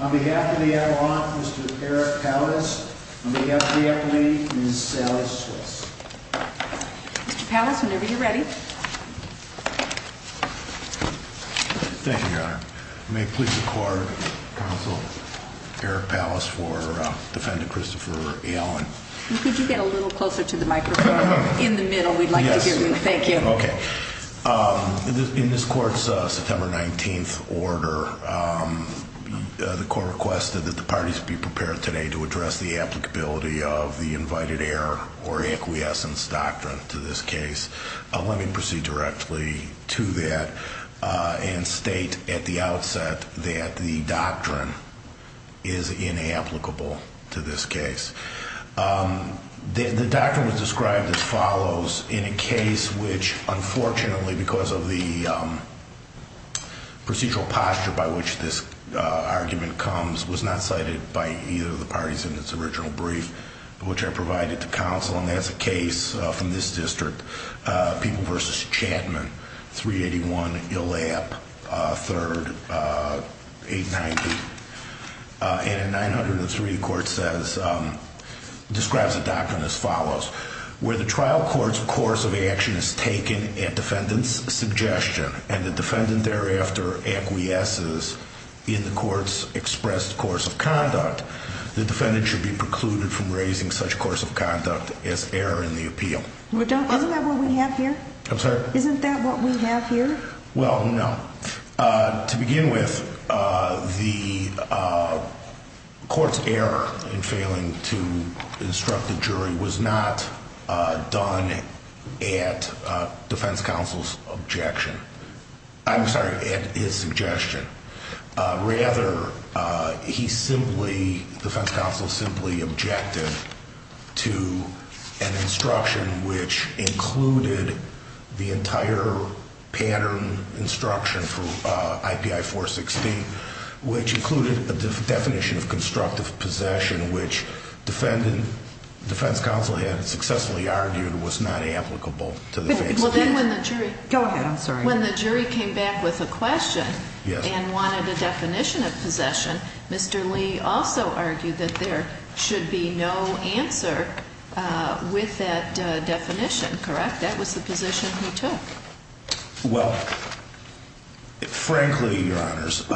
on behalf of the Adirondacks, Mr. Eric Pallas, on behalf of the Appalachians, Ms. Sally Switz. Mr. Pallas, whenever you're ready. Thank you, Your Honor. May I please record Counsel Eric Pallas for Defendant Christopher Allen. Could you get a little closer to the microphone? In the middle, we'd like to hear you. Thank you. Okay. In this court's September 19th order, the court requested that the parties be prepared today to address the applicability of the invited heir or acquiescence doctrine to this case. Let me proceed directly to that and state at the outset that the doctrine is inapplicable to this case. The doctrine was described as follows in a case which, unfortunately, because of the procedural posture by which this argument comes, was not cited by either of the parties in its original brief, which I provided to counsel. And that's a case from this district, People v. Chatman, 381 Illap III, 890. And in 903, the court describes the doctrine as follows. Where the trial court's course of action is taken at defendant's suggestion and the defendant thereafter acquiesces in the court's expressed course of conduct, the defendant should be precluded from raising such a course of conduct as error in the appeal. Isn't that what we have here? I'm sorry? Isn't that what we have here? Well, no. To begin with, the court's error in failing to instruct the jury was not done at defense counsel's objection. I'm sorry, at his suggestion. Rather, defense counsel simply objected to an instruction which included the entire pattern instruction for IPI 416, which included a definition of constructive possession, which defense counsel had successfully argued was not applicable to the case. I'm sorry. When the jury came back with a question and wanted a definition of possession, Mr. Lee also argued that there should be no answer with that definition, correct? That was the position he took. Well, frankly, Your Honors,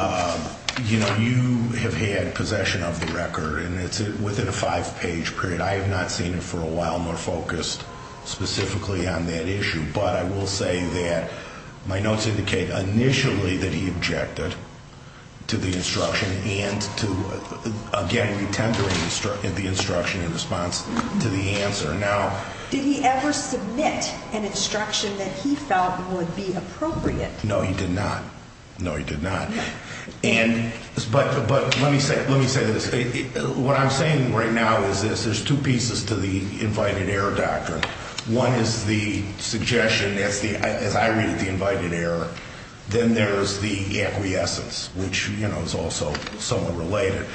you know, you have had possession of the record, and it's within a five-page period. I have not seen it for a while, nor focused specifically on that issue. But I will say that my notes indicate initially that he objected to the instruction and to, again, re-tendering the instruction in response to the answer. Now, did he ever submit an instruction that he felt would be appropriate? No, he did not. No, he did not. But let me say this. What I'm saying right now is this. There's two pieces to the invited error doctrine. One is the suggestion, as I read it, the invited error. Then there is the acquiescence, which, you know, is also somewhat related.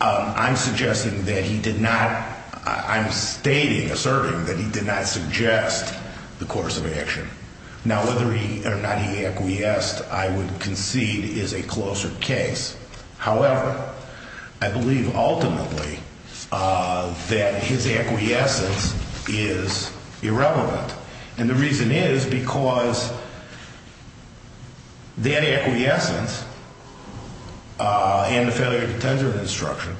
I'm suggesting that he did not – I'm stating, asserting that he did not suggest the course of action. Now, whether or not he acquiesced, I would concede, is a closer case. However, I believe, ultimately, that his acquiescence is irrelevant. And the reason is because that acquiescence and the failure to tender the instruction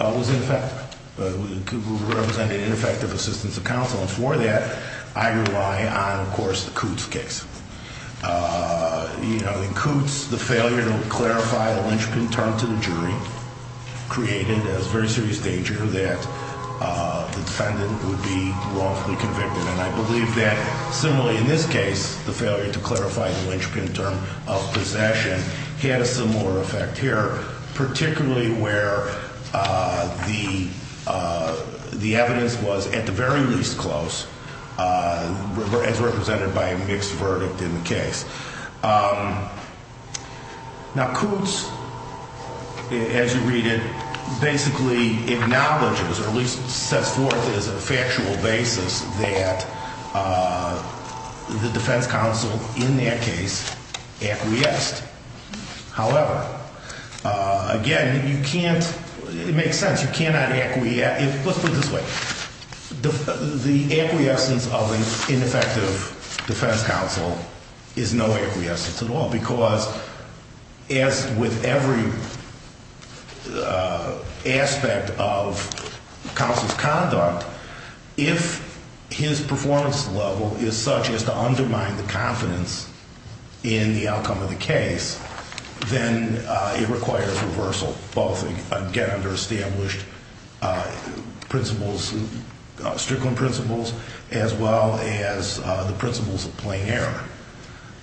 was ineffective. It represented ineffective assistance of counsel. And for that, I rely on, of course, the Coots case. You know, in Coots, the failure to clarify the linchpin term to the jury created a very serious danger that the defendant would be wrongfully convicted. And I believe that, similarly in this case, the failure to clarify the linchpin term of possession had a similar effect here, particularly where the evidence was at the very least close, as represented by a mixed verdict in the case. Now, Coots, as you read it, basically acknowledges or at least sets forth as a factual basis that the defense counsel, in that case, acquiesced. However, again, you can't – it makes sense. You cannot – let's put it this way. The acquiescence of an ineffective defense counsel is no acquiescence at all because, as with every aspect of counsel's conduct, if his performance level is such as to undermine the confidence in the outcome of the case, then it requires reversal, both again under established principles, strickling principles, as well as the principles of plain error.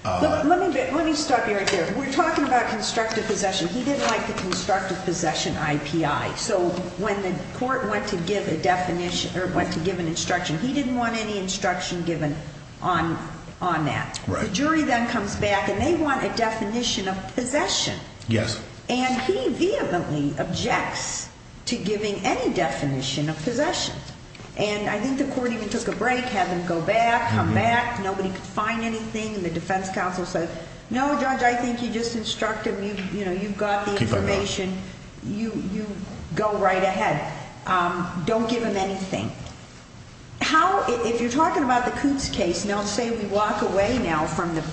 Let me stop you right there. We're talking about constructive possession. He didn't like the constructive possession IPI. So when the court went to give a definition or went to give an instruction, he didn't want any instruction given on that. The jury then comes back, and they want a definition of possession. And he vehemently objects to giving any definition of possession. And I think the court even took a break, had them go back, come back. Nobody could find anything. The defense counsel said, no, Judge, I think you just instructed him. You've got the information. You go right ahead. Don't give him anything. How – if you're talking about the Coops case, now say we walk away now from the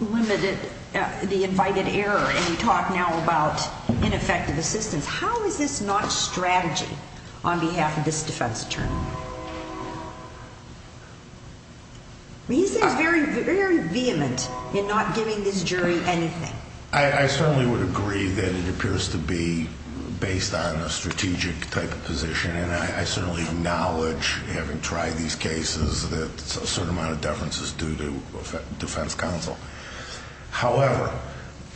limited – the invited error, and we talk now about ineffective assistance, how is this not strategy on behalf of this defense attorney? He seems very, very vehement in not giving this jury anything. I certainly would agree that it appears to be based on a strategic type of position, and I certainly acknowledge, having tried these cases, that a certain amount of deference is due to defense counsel. However,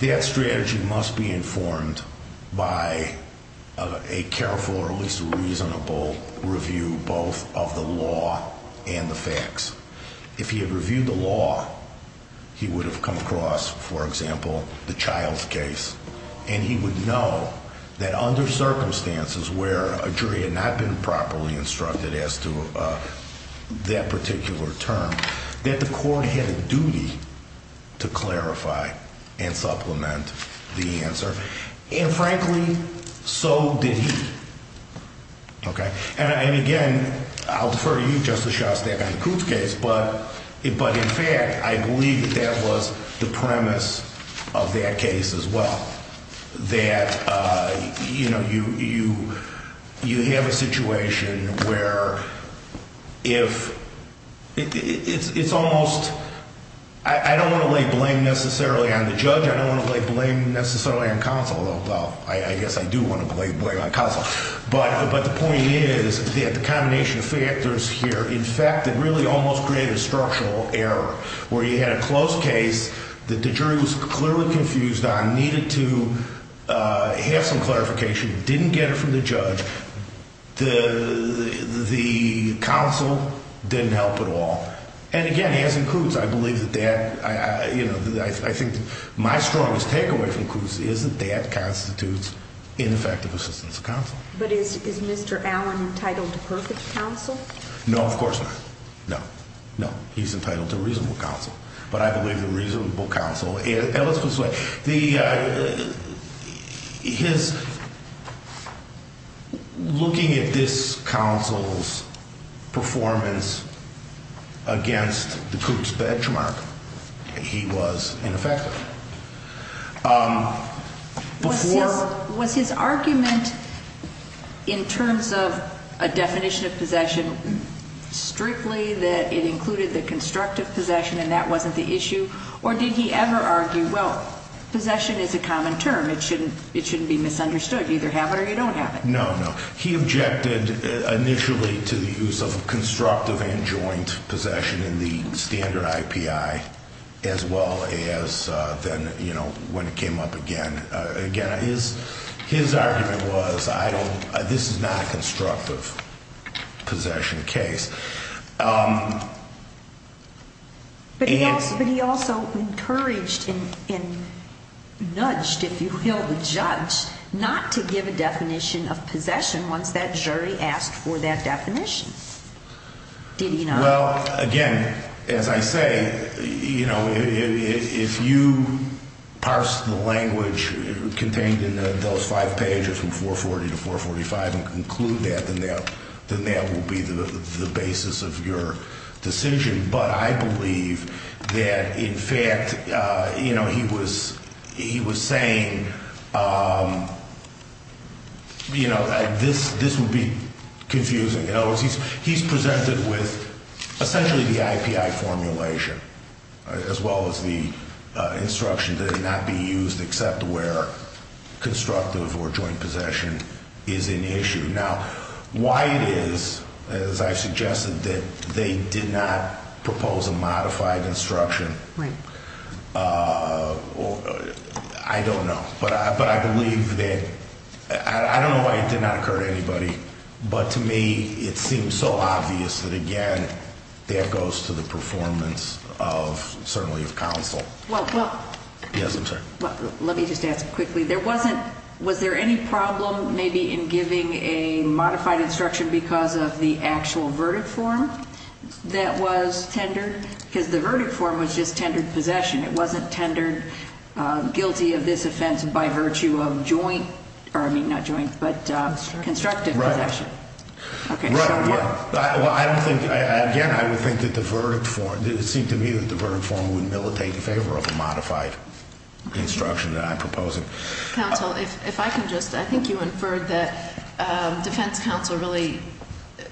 that strategy must be informed by a careful or at least reasonable review, both of the law and the facts. If he had reviewed the law, he would have come across, for example, the Childs case, and he would know that under circumstances where a jury had not been properly instructed as to that particular term, that the court had a duty to clarify and supplement the answer. And frankly, so did he. Okay? And again, I'll defer to you, Justice Shostak, on the Coops case, but in fact, I believe that that was the premise of that case as well, that you have a situation where if – it's almost – I don't want to lay blame necessarily on the judge, I don't want to lay blame necessarily on counsel, although I guess I do want to lay blame on counsel, but the point is that the combination of factors here, in fact, it really almost created a structural error, where you had a closed case that the jury was clearly confused on, needed to have some clarification, didn't get it from the judge, the counsel didn't help at all. And again, as in Coops, I believe that that – I think my strongest takeaway from Coops is that that constitutes ineffective assistance of counsel. But is Mr. Allen entitled to perfect counsel? No, of course not. No. No, he's entitled to reasonable counsel. But I believe the reasonable counsel – and let's put it this way. The – his – looking at this counsel's performance against the Coops benchmark, he was ineffective. Before – Was his – was his argument in terms of a definition of possession strictly that it included the constructive possession and that wasn't the issue? Or did he ever argue, well, possession is a common term, it shouldn't be misunderstood, you either have it or you don't have it? No, no. He objected initially to the use of constructive and joint possession in the standard IPI as well as then, you know, when it came up again. Again, his argument was I don't – this is not a constructive possession case. But he also encouraged and nudged, if you will, the judge not to give a definition of possession once that jury asked for that definition. Did he not? But I believe that, in fact, you know, he was – he was saying, you know, this would be confusing. In other words, he's presented with essentially the IPI formulation as well as the instruction that it not be used except where constructive or joint possession is in issue. Now, why it is, as I've suggested, that they did not propose a modified instruction, I don't know. But I believe that – I don't know why it did not occur to anybody. But to me, it seems so obvious that, again, that goes to the performance of – certainly of counsel. Well, well – Yes, I'm sorry. Let me just ask quickly. There wasn't – was there any problem maybe in giving a modified instruction because of the actual verdict form that was tendered? Because the verdict form was just tendered possession. It wasn't tendered guilty of this offense by virtue of joint – or, I mean, not joint, but constructive possession. Right. Okay. Well, I don't think – again, I would think that the verdict form – it seemed to me that the verdict form would militate in favor of a modified instruction that I'm proposing. Counsel, if I can just – I think you inferred that defense counsel really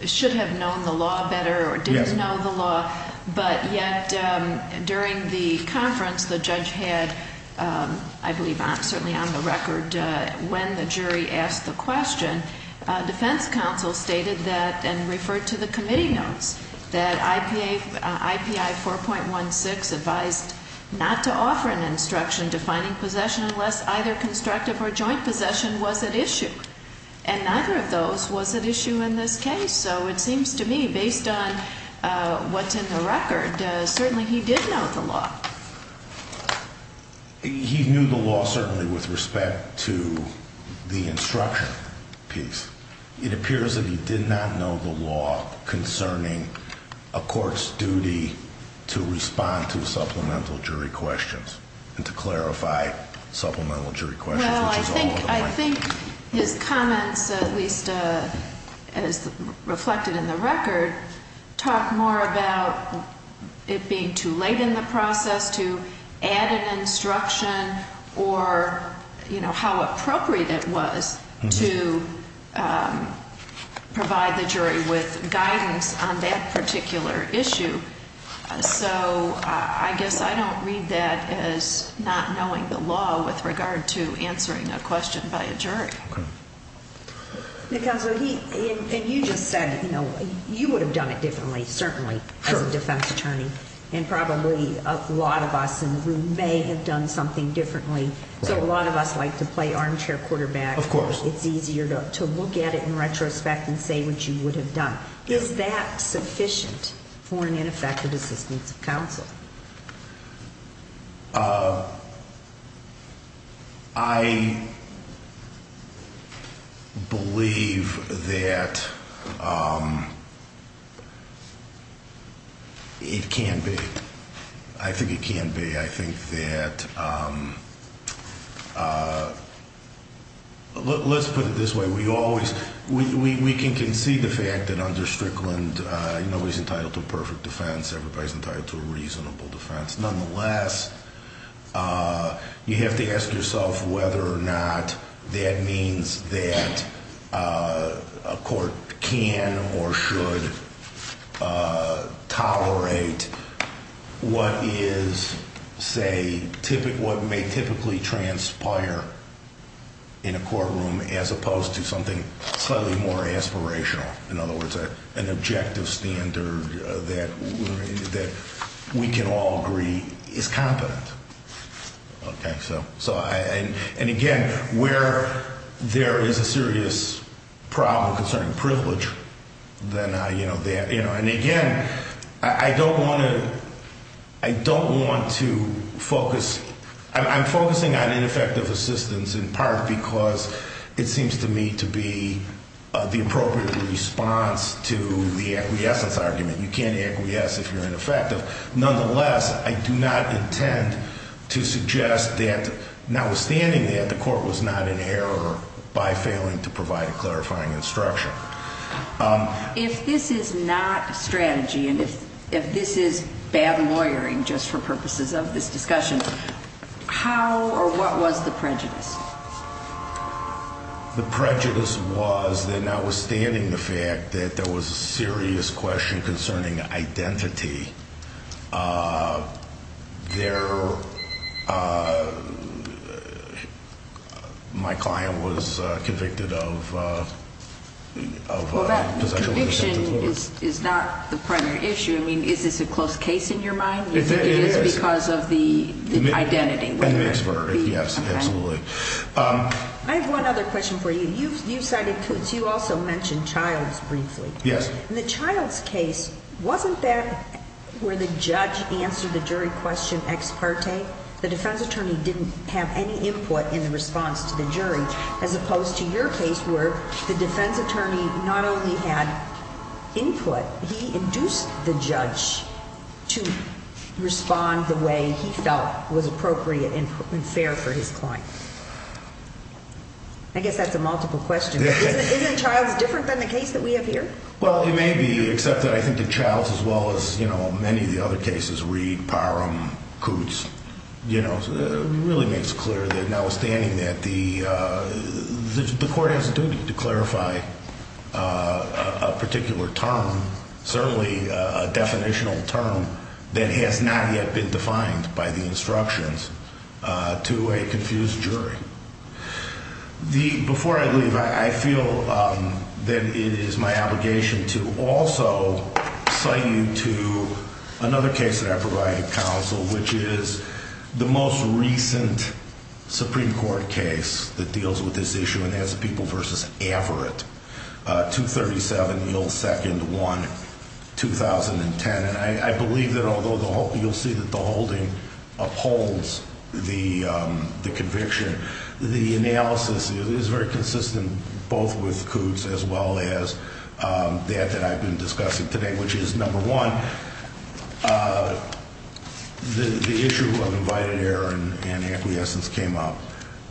should have known the law better or didn't know the law. Yes. And that during the conference, the judge had, I believe, certainly on the record when the jury asked the question, defense counsel stated that – and referred to the committee notes – that IPA – IPI 4.16 advised not to offer an instruction defining possession unless either constructive or joint possession was at issue. And neither of those was at issue in this case. So it seems to me, based on what's in the record, certainly he did know the law. He knew the law, certainly, with respect to the instruction piece. It appears that he did not know the law concerning a court's duty to respond to supplemental jury questions and to clarify supplemental jury questions, which is a whole other thing. I think his comments, at least as reflected in the record, talk more about it being too late in the process to add an instruction or, you know, how appropriate it was to provide the jury with guidance on that particular issue. So I guess I don't read that as not knowing the law with regard to answering a question by a jury. Okay. Counsel, he – and you just said, you know, you would have done it differently, certainly, as a defense attorney. And probably a lot of us in the room may have done something differently. So a lot of us like to play armchair quarterback. Of course. It's easier to look at it in retrospect and say what you would have done. Is that sufficient for an ineffective assistance of counsel? I believe that it can be. I think it can be. I think that – let's put it this way. We can concede the fact that under Strickland nobody's entitled to a perfect defense. Everybody's entitled to a reasonable defense. Nonetheless, you have to ask yourself whether or not that means that a court can or should tolerate what is, say, what may typically transpire in a courtroom as opposed to something slightly more aspirational. In other words, an objective standard that we can all agree is competent. Okay. So I – and again, where there is a serious problem concerning privilege, then I – you know, that – you know, and again, I don't want to – I don't want to focus – I'm focusing on ineffective assistance in part because it seems to me to be the appropriate response to the acquiescence argument. You can't acquiesce if you're ineffective. Nonetheless, I do not intend to suggest that notwithstanding that, the court was not in error by failing to provide a clarifying instruction. If this is not strategy and if this is bad lawyering just for purposes of this discussion, how or what was the prejudice? The prejudice was that notwithstanding the fact that there was a serious question concerning identity, there – my client was convicted of – of – Well, that conviction is not the primary issue. I mean, is this a close case in your mind? It is. It is because of the identity. The expert, yes, absolutely. I have one other question for you. You've cited Coots. You also mentioned Childs briefly. Yes. In the Childs case, wasn't that where the judge answered the jury question ex parte? The defense attorney didn't have any input in response to the jury as opposed to your case where the defense attorney not only had input, he induced the judge to respond the way he felt was appropriate and fair for his client. I guess that's a multiple question, but isn't – isn't Childs different than the case that we have here? Well, it may be, except that I think that Childs as well as, you know, many of the other cases, Reed, Parham, Coots, you know, really makes it clear that now withstanding that, the court has a duty to clarify a particular term, certainly a definitional term that has not yet been defined by the instructions to a confused jury. The – before I leave, I feel that it is my obligation to also cite you to another case that I provided counsel, which is the most recent Supreme Court case that deals with this issue, and that's the People v. Averitt, 237, Yule 2nd, 1, 2010. I believe that although the – you'll see that the holding upholds the conviction, the analysis is very consistent both with Coots as well as that that I've been discussing today, which is, number one, the issue of invited error and acquiescence came up.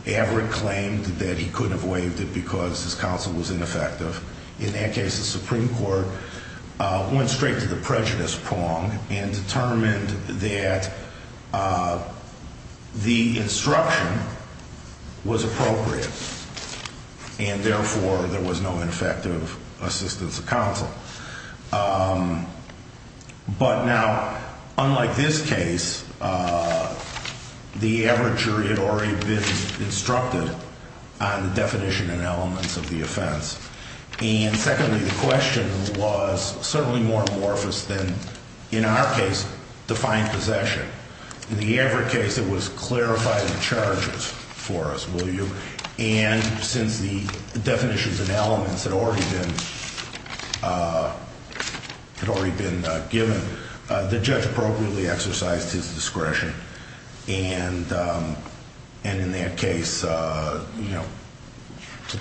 Averitt claimed that he couldn't have waived it because his counsel was ineffective. In that case, the Supreme Court went straight to the prejudice prong and determined that the instruction was appropriate and therefore there was no ineffective assistance of counsel. But now, unlike this case, the Averitt jury had already been instructed on the definition and elements of the offense. And secondly, the question was certainly more amorphous than, in our case, defined possession. In the Averitt case, it was clarifying charges for us, will you? And since the definitions and elements had already been – had already been given, the judge appropriately exercised his discretion. And in that case, you know,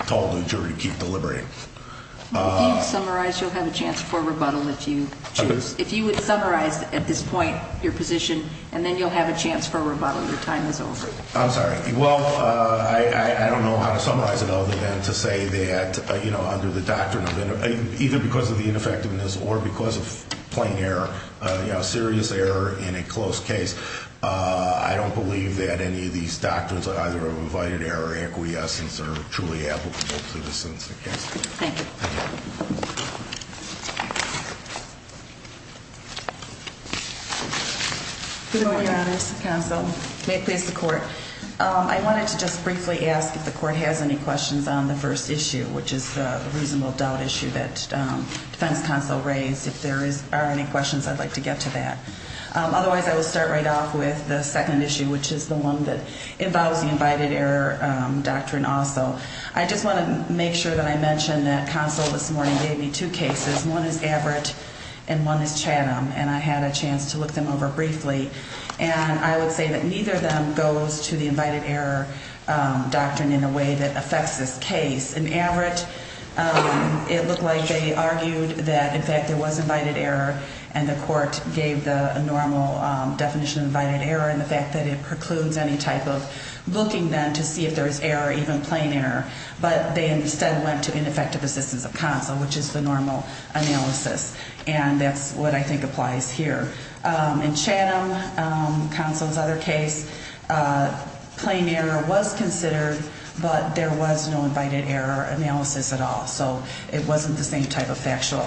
told the jury to keep deliberating. If you would summarize, you'll have a chance for rebuttal if you choose – if you would summarize at this point your position, and then you'll have a chance for rebuttal. Your time is over. I'm sorry. Well, I don't know how to summarize it other than to say that, you know, under the doctrine of – either because of the ineffectiveness or because of plain error, you know, serious error in a close case, I don't believe that any of these doctrines are either of invited error or acquiescence are truly applicable to this instance. Thank you. Good morning, Your Honors. Counsel. May it please the court. I wanted to just briefly ask if the court has any questions on the first issue, which is the reasonable doubt issue that defense counsel raised. If there is – are any questions, I'd like to get to that. Otherwise, I will start right off with the second issue, which is the one that involves the invited error doctrine also. I just want to make sure that I mention that counsel this morning gave me two cases. One is Averitt and one is Chatham, and I had a chance to look them over briefly. And I would say that neither of them goes to the invited error doctrine in a way that affects this case. In Averitt, it looked like they argued that, in fact, there was invited error, and the court gave the normal definition of invited error and the fact that it precludes any type of looking then to see if there is error, even plain error. But they instead went to ineffective assistance of counsel, which is the normal analysis. And that's what I think applies here. In Chatham, counsel's other case, plain error was considered, but there was no invited error analysis at all. So it wasn't the same type of factual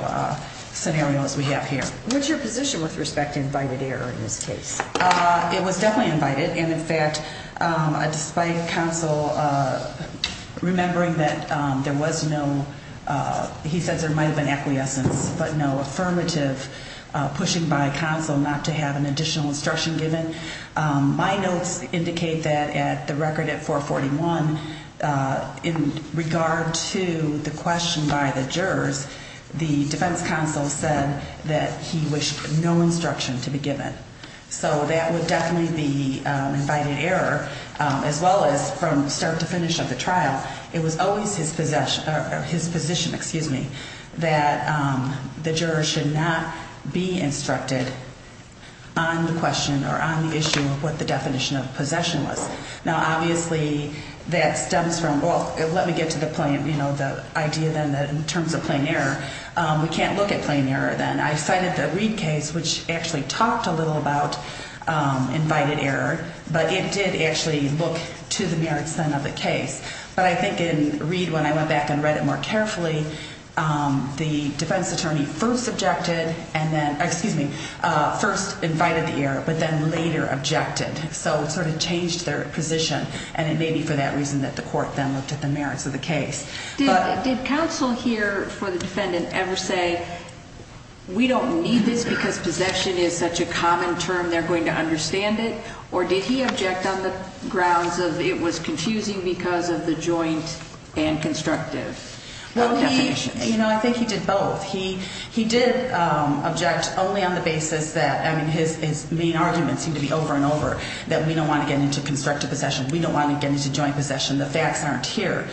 scenario as we have here. What's your position with respect to invited error in this case? It was definitely invited. And, in fact, despite counsel remembering that there was no, he says there might have been acquiescence, but no affirmative pushing by counsel not to have an additional instruction given, my notes indicate that at the record at 441, in regard to the question by the jurors, the defense counsel said that he wished no instruction to be given. So that would definitely be invited error, as well as from start to finish of the trial, it was always his position that the jurors should not be instructed on the question or on the issue of what the definition of possession was. Now, obviously, that stems from, well, let me get to the idea then that in terms of plain error, we can't look at plain error then. I cited the Reid case, which actually talked a little about invited error, but it did actually look to the mere extent of the case. But I think in Reid, when I went back and read it more carefully, the defense attorney first objected and then, excuse me, first invited the error, but then later objected. And so it sort of changed their position, and it may be for that reason that the court then looked at the merits of the case. Did counsel here for the defendant ever say, we don't need this because possession is such a common term, they're going to understand it? Or did he object on the grounds of it was confusing because of the joint and constructive definitions? Well, he, you know, I think he did both. He did object only on the basis that, I mean, his main arguments seem to be over and over, that we don't want to get into constructive possession. We don't want to get into joint possession. The facts aren't here.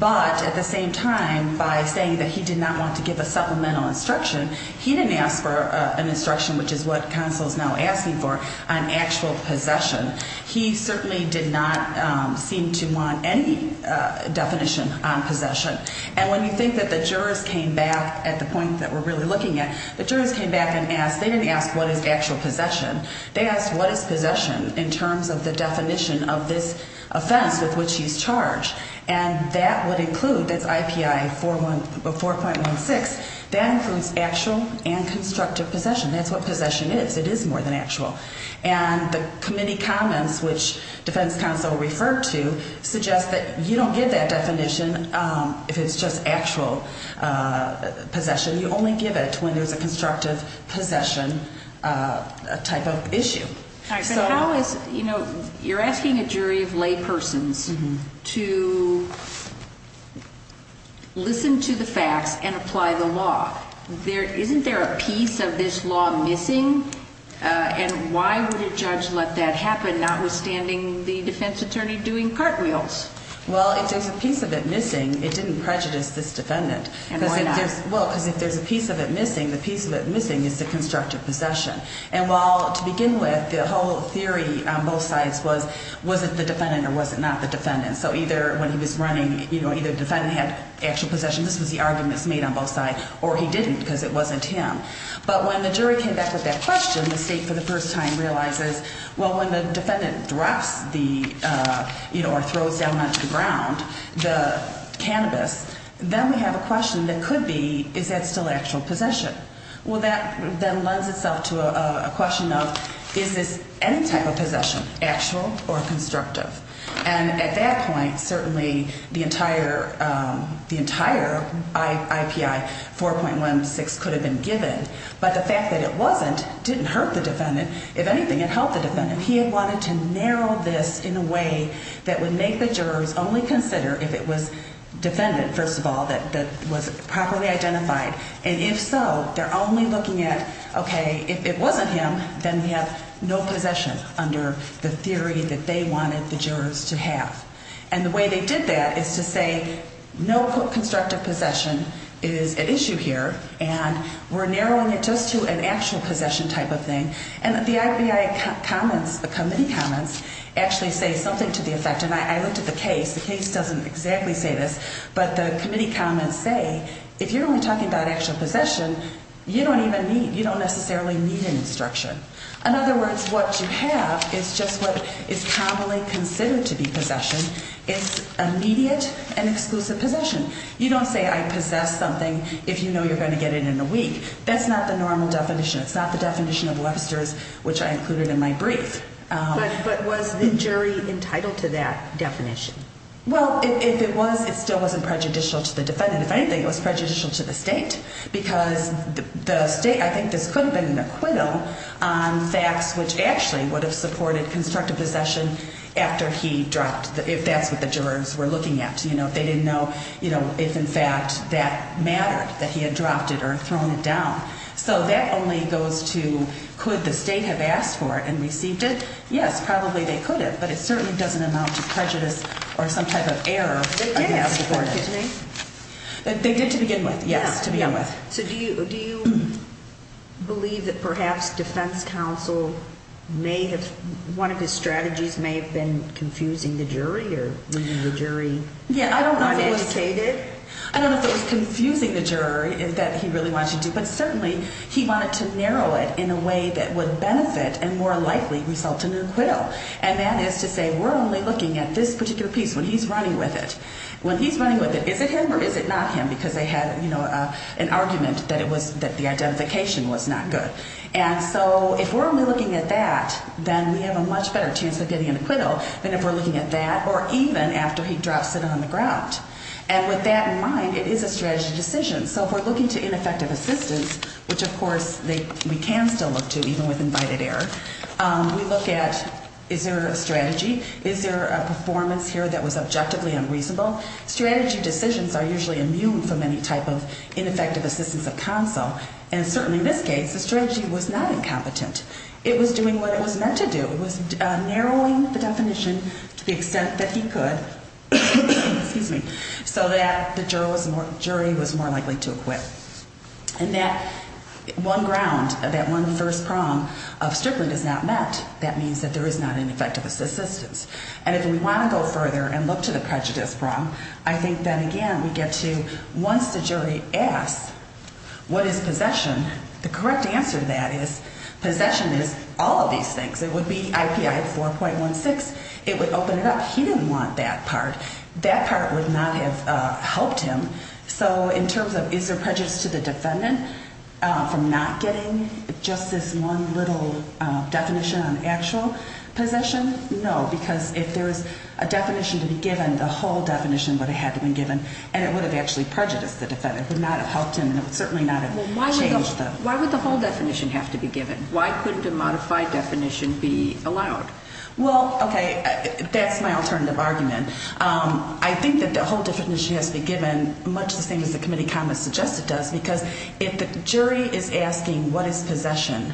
But at the same time, by saying that he did not want to give a supplemental instruction, he didn't ask for an instruction, which is what counsel is now asking for, on actual possession. He certainly did not seem to want any definition on possession. And when you think that the jurors came back at the point that we're really looking at, the jurors came back and asked, they didn't ask what is actual possession, they asked what is possession in terms of the definition of this offense with which he's charged. And that would include, that's IPI 4.16, that includes actual and constructive possession. That's what possession is. It is more than actual. And the committee comments, which defense counsel referred to, suggests that you don't give that definition if it's just actual possession. You only give it when there's a constructive possession type of issue. So how is, you know, you're asking a jury of laypersons to listen to the facts and apply the law. Isn't there a piece of this law missing? And why would a judge let that happen, notwithstanding the defense attorney doing cartwheels? Well, if there's a piece of it missing, it didn't prejudice this defendant. And why not? Well, because if there's a piece of it missing, the piece of it missing is the constructive possession. And while, to begin with, the whole theory on both sides was, was it the defendant or was it not the defendant? So either when he was running, you know, either the defendant had actual possession, this was the arguments made on both sides, or he didn't because it wasn't him. But when the jury came back with that question, the state for the first time realizes, well, when the defendant drops the, you know, or throws down onto the ground the cannabis, then we have a question that could be, is that still actual possession? Well, that then lends itself to a question of, is this any type of possession, actual or constructive? And at that point, certainly the entire, the entire IPI 4.16 could have been given. But the fact that it wasn't didn't hurt the defendant. If anything, it helped the defendant. He had wanted to narrow this in a way that would make the jurors only consider if it was defendant, first of all, that was properly identified. And if so, they're only looking at, okay, if it wasn't him, then we have no possession under the theory that they wanted the jurors to have. And the way they did that is to say, no constructive possession is at issue here, and we're narrowing it just to an actual possession type of thing. And the IPI comments, the committee comments, actually say something to the effect, and I looked at the case, the case doesn't exactly say this, but the committee comments say, if you're only talking about actual possession, you don't even need, you don't necessarily need an instruction. In other words, what you have is just what is commonly considered to be possession. It's immediate and exclusive possession. You don't say I possess something if you know you're going to get it in a week. That's not the normal definition. It's not the definition of Webster's, which I included in my brief. But was the jury entitled to that definition? Well, if it was, it still wasn't prejudicial to the defendant. If anything, it was prejudicial to the state because the state, I think this could have been an acquittal on facts which actually would have supported constructive possession after he dropped, if that's what the jurors were looking at. They didn't know if, in fact, that mattered, that he had dropped it or thrown it down. So that only goes to could the state have asked for it and received it? Yes, probably they could have, but it certainly doesn't amount to prejudice or some type of error. They did ask for it. Excuse me? They did to begin with, yes, to begin with. So do you believe that perhaps defense counsel may have, one of his strategies may have been confusing the jury or leaving the jury undedicated? Yeah, I don't know if it was confusing the jury that he really wanted to do, but certainly he wanted to narrow it in a way that would benefit and more likely result in an acquittal. And that is to say we're only looking at this particular piece when he's running with it. When he's running with it, is it him or is it not him? Because they had an argument that the identification was not good. And so if we're only looking at that, then we have a much better chance of getting an acquittal than if we're looking at that or even after he drops it on the ground. And with that in mind, it is a strategy decision. So if we're looking to ineffective assistance, which, of course, we can still look to even with invited error, we look at is there a strategy, is there a performance here that was objectively unreasonable? Strategy decisions are usually immune from any type of ineffective assistance of counsel. And certainly in this case, the strategy was not incompetent. It was doing what it was meant to do. It was narrowing the definition to the extent that he could so that the jury was more likely to acquit. And that one ground, that one first prong of stripling is not met. That means that there is not an effective assistance. And if we want to go further and look to the prejudice prong, I think that, again, we get to once the jury asks what is possession, the correct answer to that is possession is all of these things. It would be IPI 4.16. It would open it up. He didn't want that part. That part would not have helped him. So in terms of is there prejudice to the defendant from not getting just this one little definition on actual possession? No, because if there is a definition to be given, the whole definition would have had to be given, and it would have actually prejudiced the defendant. It would not have helped him, and it would certainly not have changed him. Why would the whole definition have to be given? Why couldn't a modified definition be allowed? Well, okay, that's my alternative argument. I think that the whole definition has to be given much the same as the committee comment suggested does because if the jury is asking what is possession,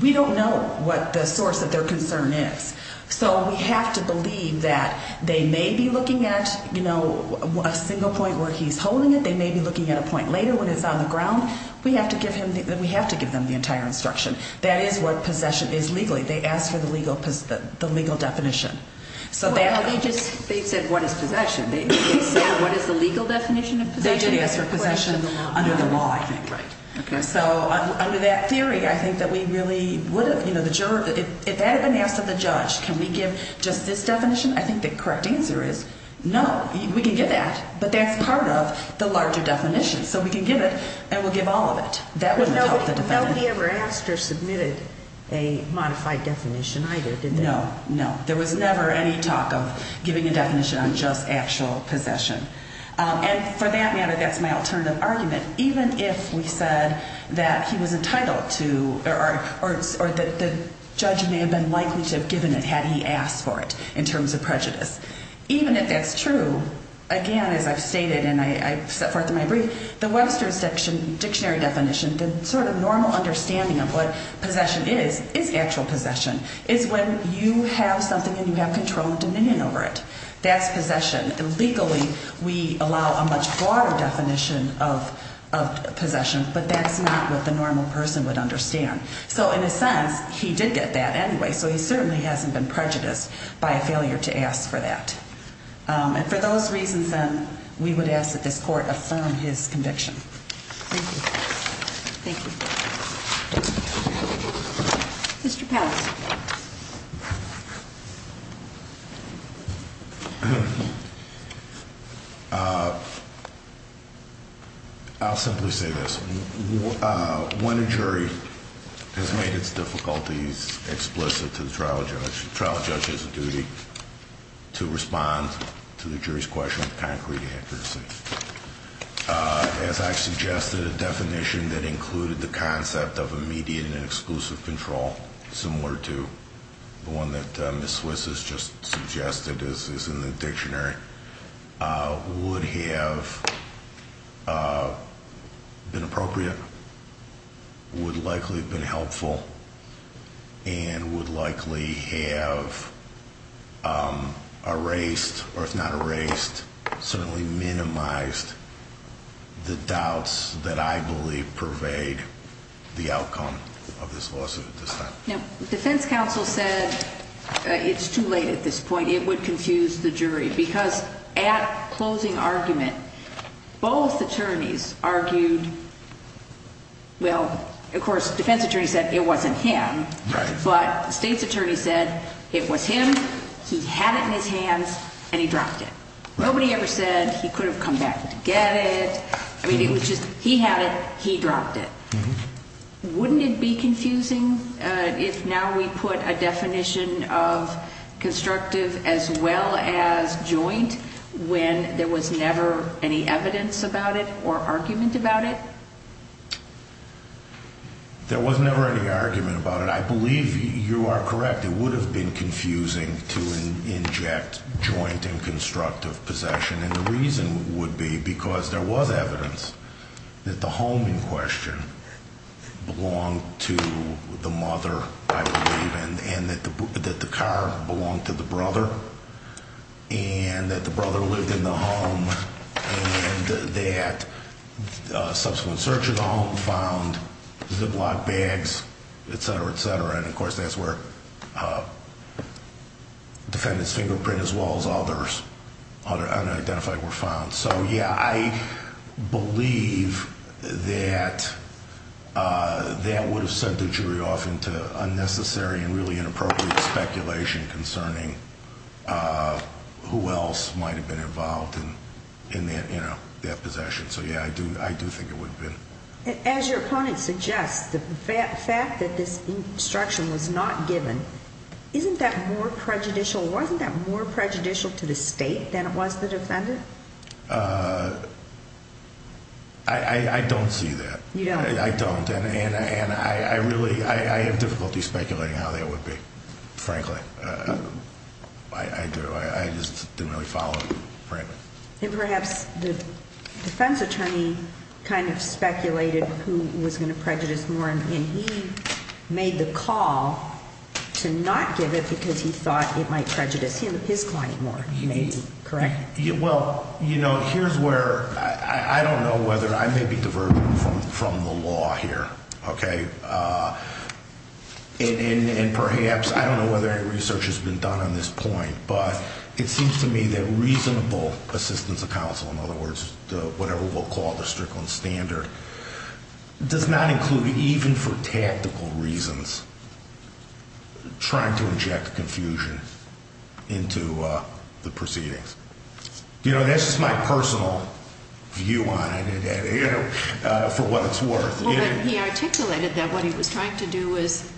we don't know what the source of their concern is. So we have to believe that they may be looking at a single point where he's holding it. They may be looking at a point later when it's on the ground. We have to give them the entire instruction. That is what possession is legally. They ask for the legal definition. Well, they just said what is possession. They said what is the legal definition of possession. They did ask for possession under the law, I think. So under that theory, I think that we really would have, you know, the juror, if that had been asked of the judge, can we give just this definition, I think the correct answer is no, we can give that, but that's part of the larger definition, so we can give it and we'll give all of it. That wouldn't help the defendant. Nobody ever asked or submitted a modified definition either, did they? No, no. There was never any talk of giving a definition on just actual possession. And for that matter, that's my alternative argument. Even if we said that he was entitled to or that the judge may have been likely to have given it had he asked for it in terms of prejudice, even if that's true, again, as I've stated and I've set forth in my brief, the Webster's dictionary definition, the sort of normal understanding of what possession is, is actual possession, is when you have something and you have control and dominion over it. That's possession. And legally, we allow a much broader definition of possession, but that's not what the normal person would understand. So in a sense, he did get that anyway, so he certainly hasn't been prejudiced by a failure to ask for that. And for those reasons, then, we would ask that this court affirm his conviction. Thank you. Mr. Powell. I'll simply say this. When a jury has made its difficulties explicit to the trial judge, the trial judge has a duty to respond to the jury's question with concrete accuracy. As I've suggested, a definition that included the concept of immediate and exclusive control, similar to the one that Ms. Swiss has just suggested is in the dictionary, would have been appropriate, would likely have been helpful, and would likely have erased, or if not erased, certainly minimized the doubts that I believe pervade the outcome of this lawsuit at this time. Now, the defense counsel said it's too late at this point, it would confuse the jury, because at closing argument, both attorneys argued, well, of course, the defense attorney said it wasn't him. Right. But the state's attorney said it was him, he had it in his hands, and he dropped it. Nobody ever said he could have come back to get it. I mean, it was just he had it, he dropped it. Wouldn't it be confusing if now we put a definition of constructive as well as joint when there was never any evidence about it or argument about it? There was never any argument about it. I believe you are correct. It would have been confusing to inject joint and constructive possession, and the reason would be because there was evidence that the home in question belonged to the mother, I believe, and that the car belonged to the brother, and that the brother lived in the home, and that subsequent search of the home found ziplock bags, et cetera, et cetera, and, of course, that's where the defendant's fingerprint as well as others unidentified were found. So, yeah, I believe that that would have sent the jury off into unnecessary and really inappropriate speculation concerning who else might have been involved in that possession. So, yeah, I do think it would have been. As your opponent suggests, the fact that this instruction was not given, isn't that more prejudicial? Wasn't that more prejudicial to the state than it was the defendant? I don't see that. You don't? I don't, and I really have difficulty speculating how that would be, frankly. I do. I just didn't really follow it, frankly. And perhaps the defense attorney kind of speculated who was going to prejudice more, and he made the call to not give it because he thought it might prejudice his client more, maybe, correct? Well, you know, here's where I don't know whether I may be diverging from the law here, okay, and perhaps I don't know whether any research has been done on this point, but it seems to me that reasonable assistance of counsel, in other words, whatever we'll call the Strickland standard, does not include even for tactical reasons trying to inject confusion into the proceedings. You know, that's just my personal view on it for what it's worth. Well, but he articulated that what he was trying to do was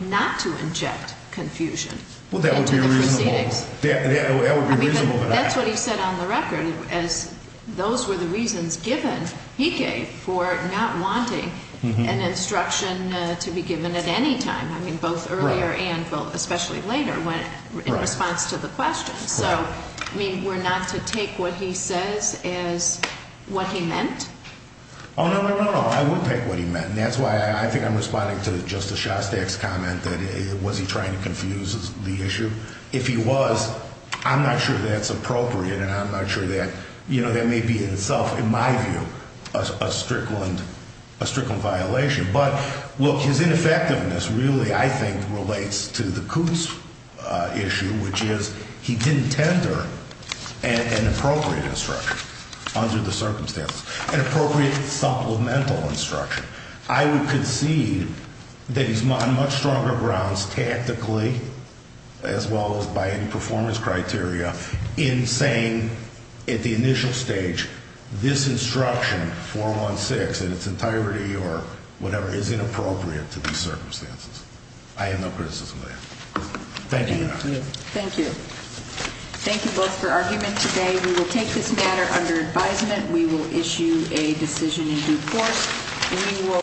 not to inject confusion into the proceedings. That would be reasonable. That's what he said on the record, as those were the reasons given, he gave, for not wanting an instruction to be given at any time, I mean, both earlier and especially later in response to the question. So, I mean, we're not to take what he says as what he meant? Oh, no, no, no, no. I would take what he meant, and that's why I think I'm responding to Justice Shostak's comment that was he trying to confuse the issue? If he was, I'm not sure that's appropriate, and I'm not sure that, you know, that may be in itself, in my view, a Strickland violation. But, look, his ineffectiveness really, I think, relates to the Coops issue, which is he didn't tender an appropriate instruction under the circumstances, an appropriate supplemental instruction. I would concede that he's on much stronger grounds tactically, as well as by any performance criteria, in saying at the initial stage, this instruction, 416 in its entirety or whatever, is inappropriate to these circumstances. I have no criticism of that. Thank you, Your Honor. Thank you. Thank you both for argument today. We will take this matter under advisement. We will issue a decision in due course. We will.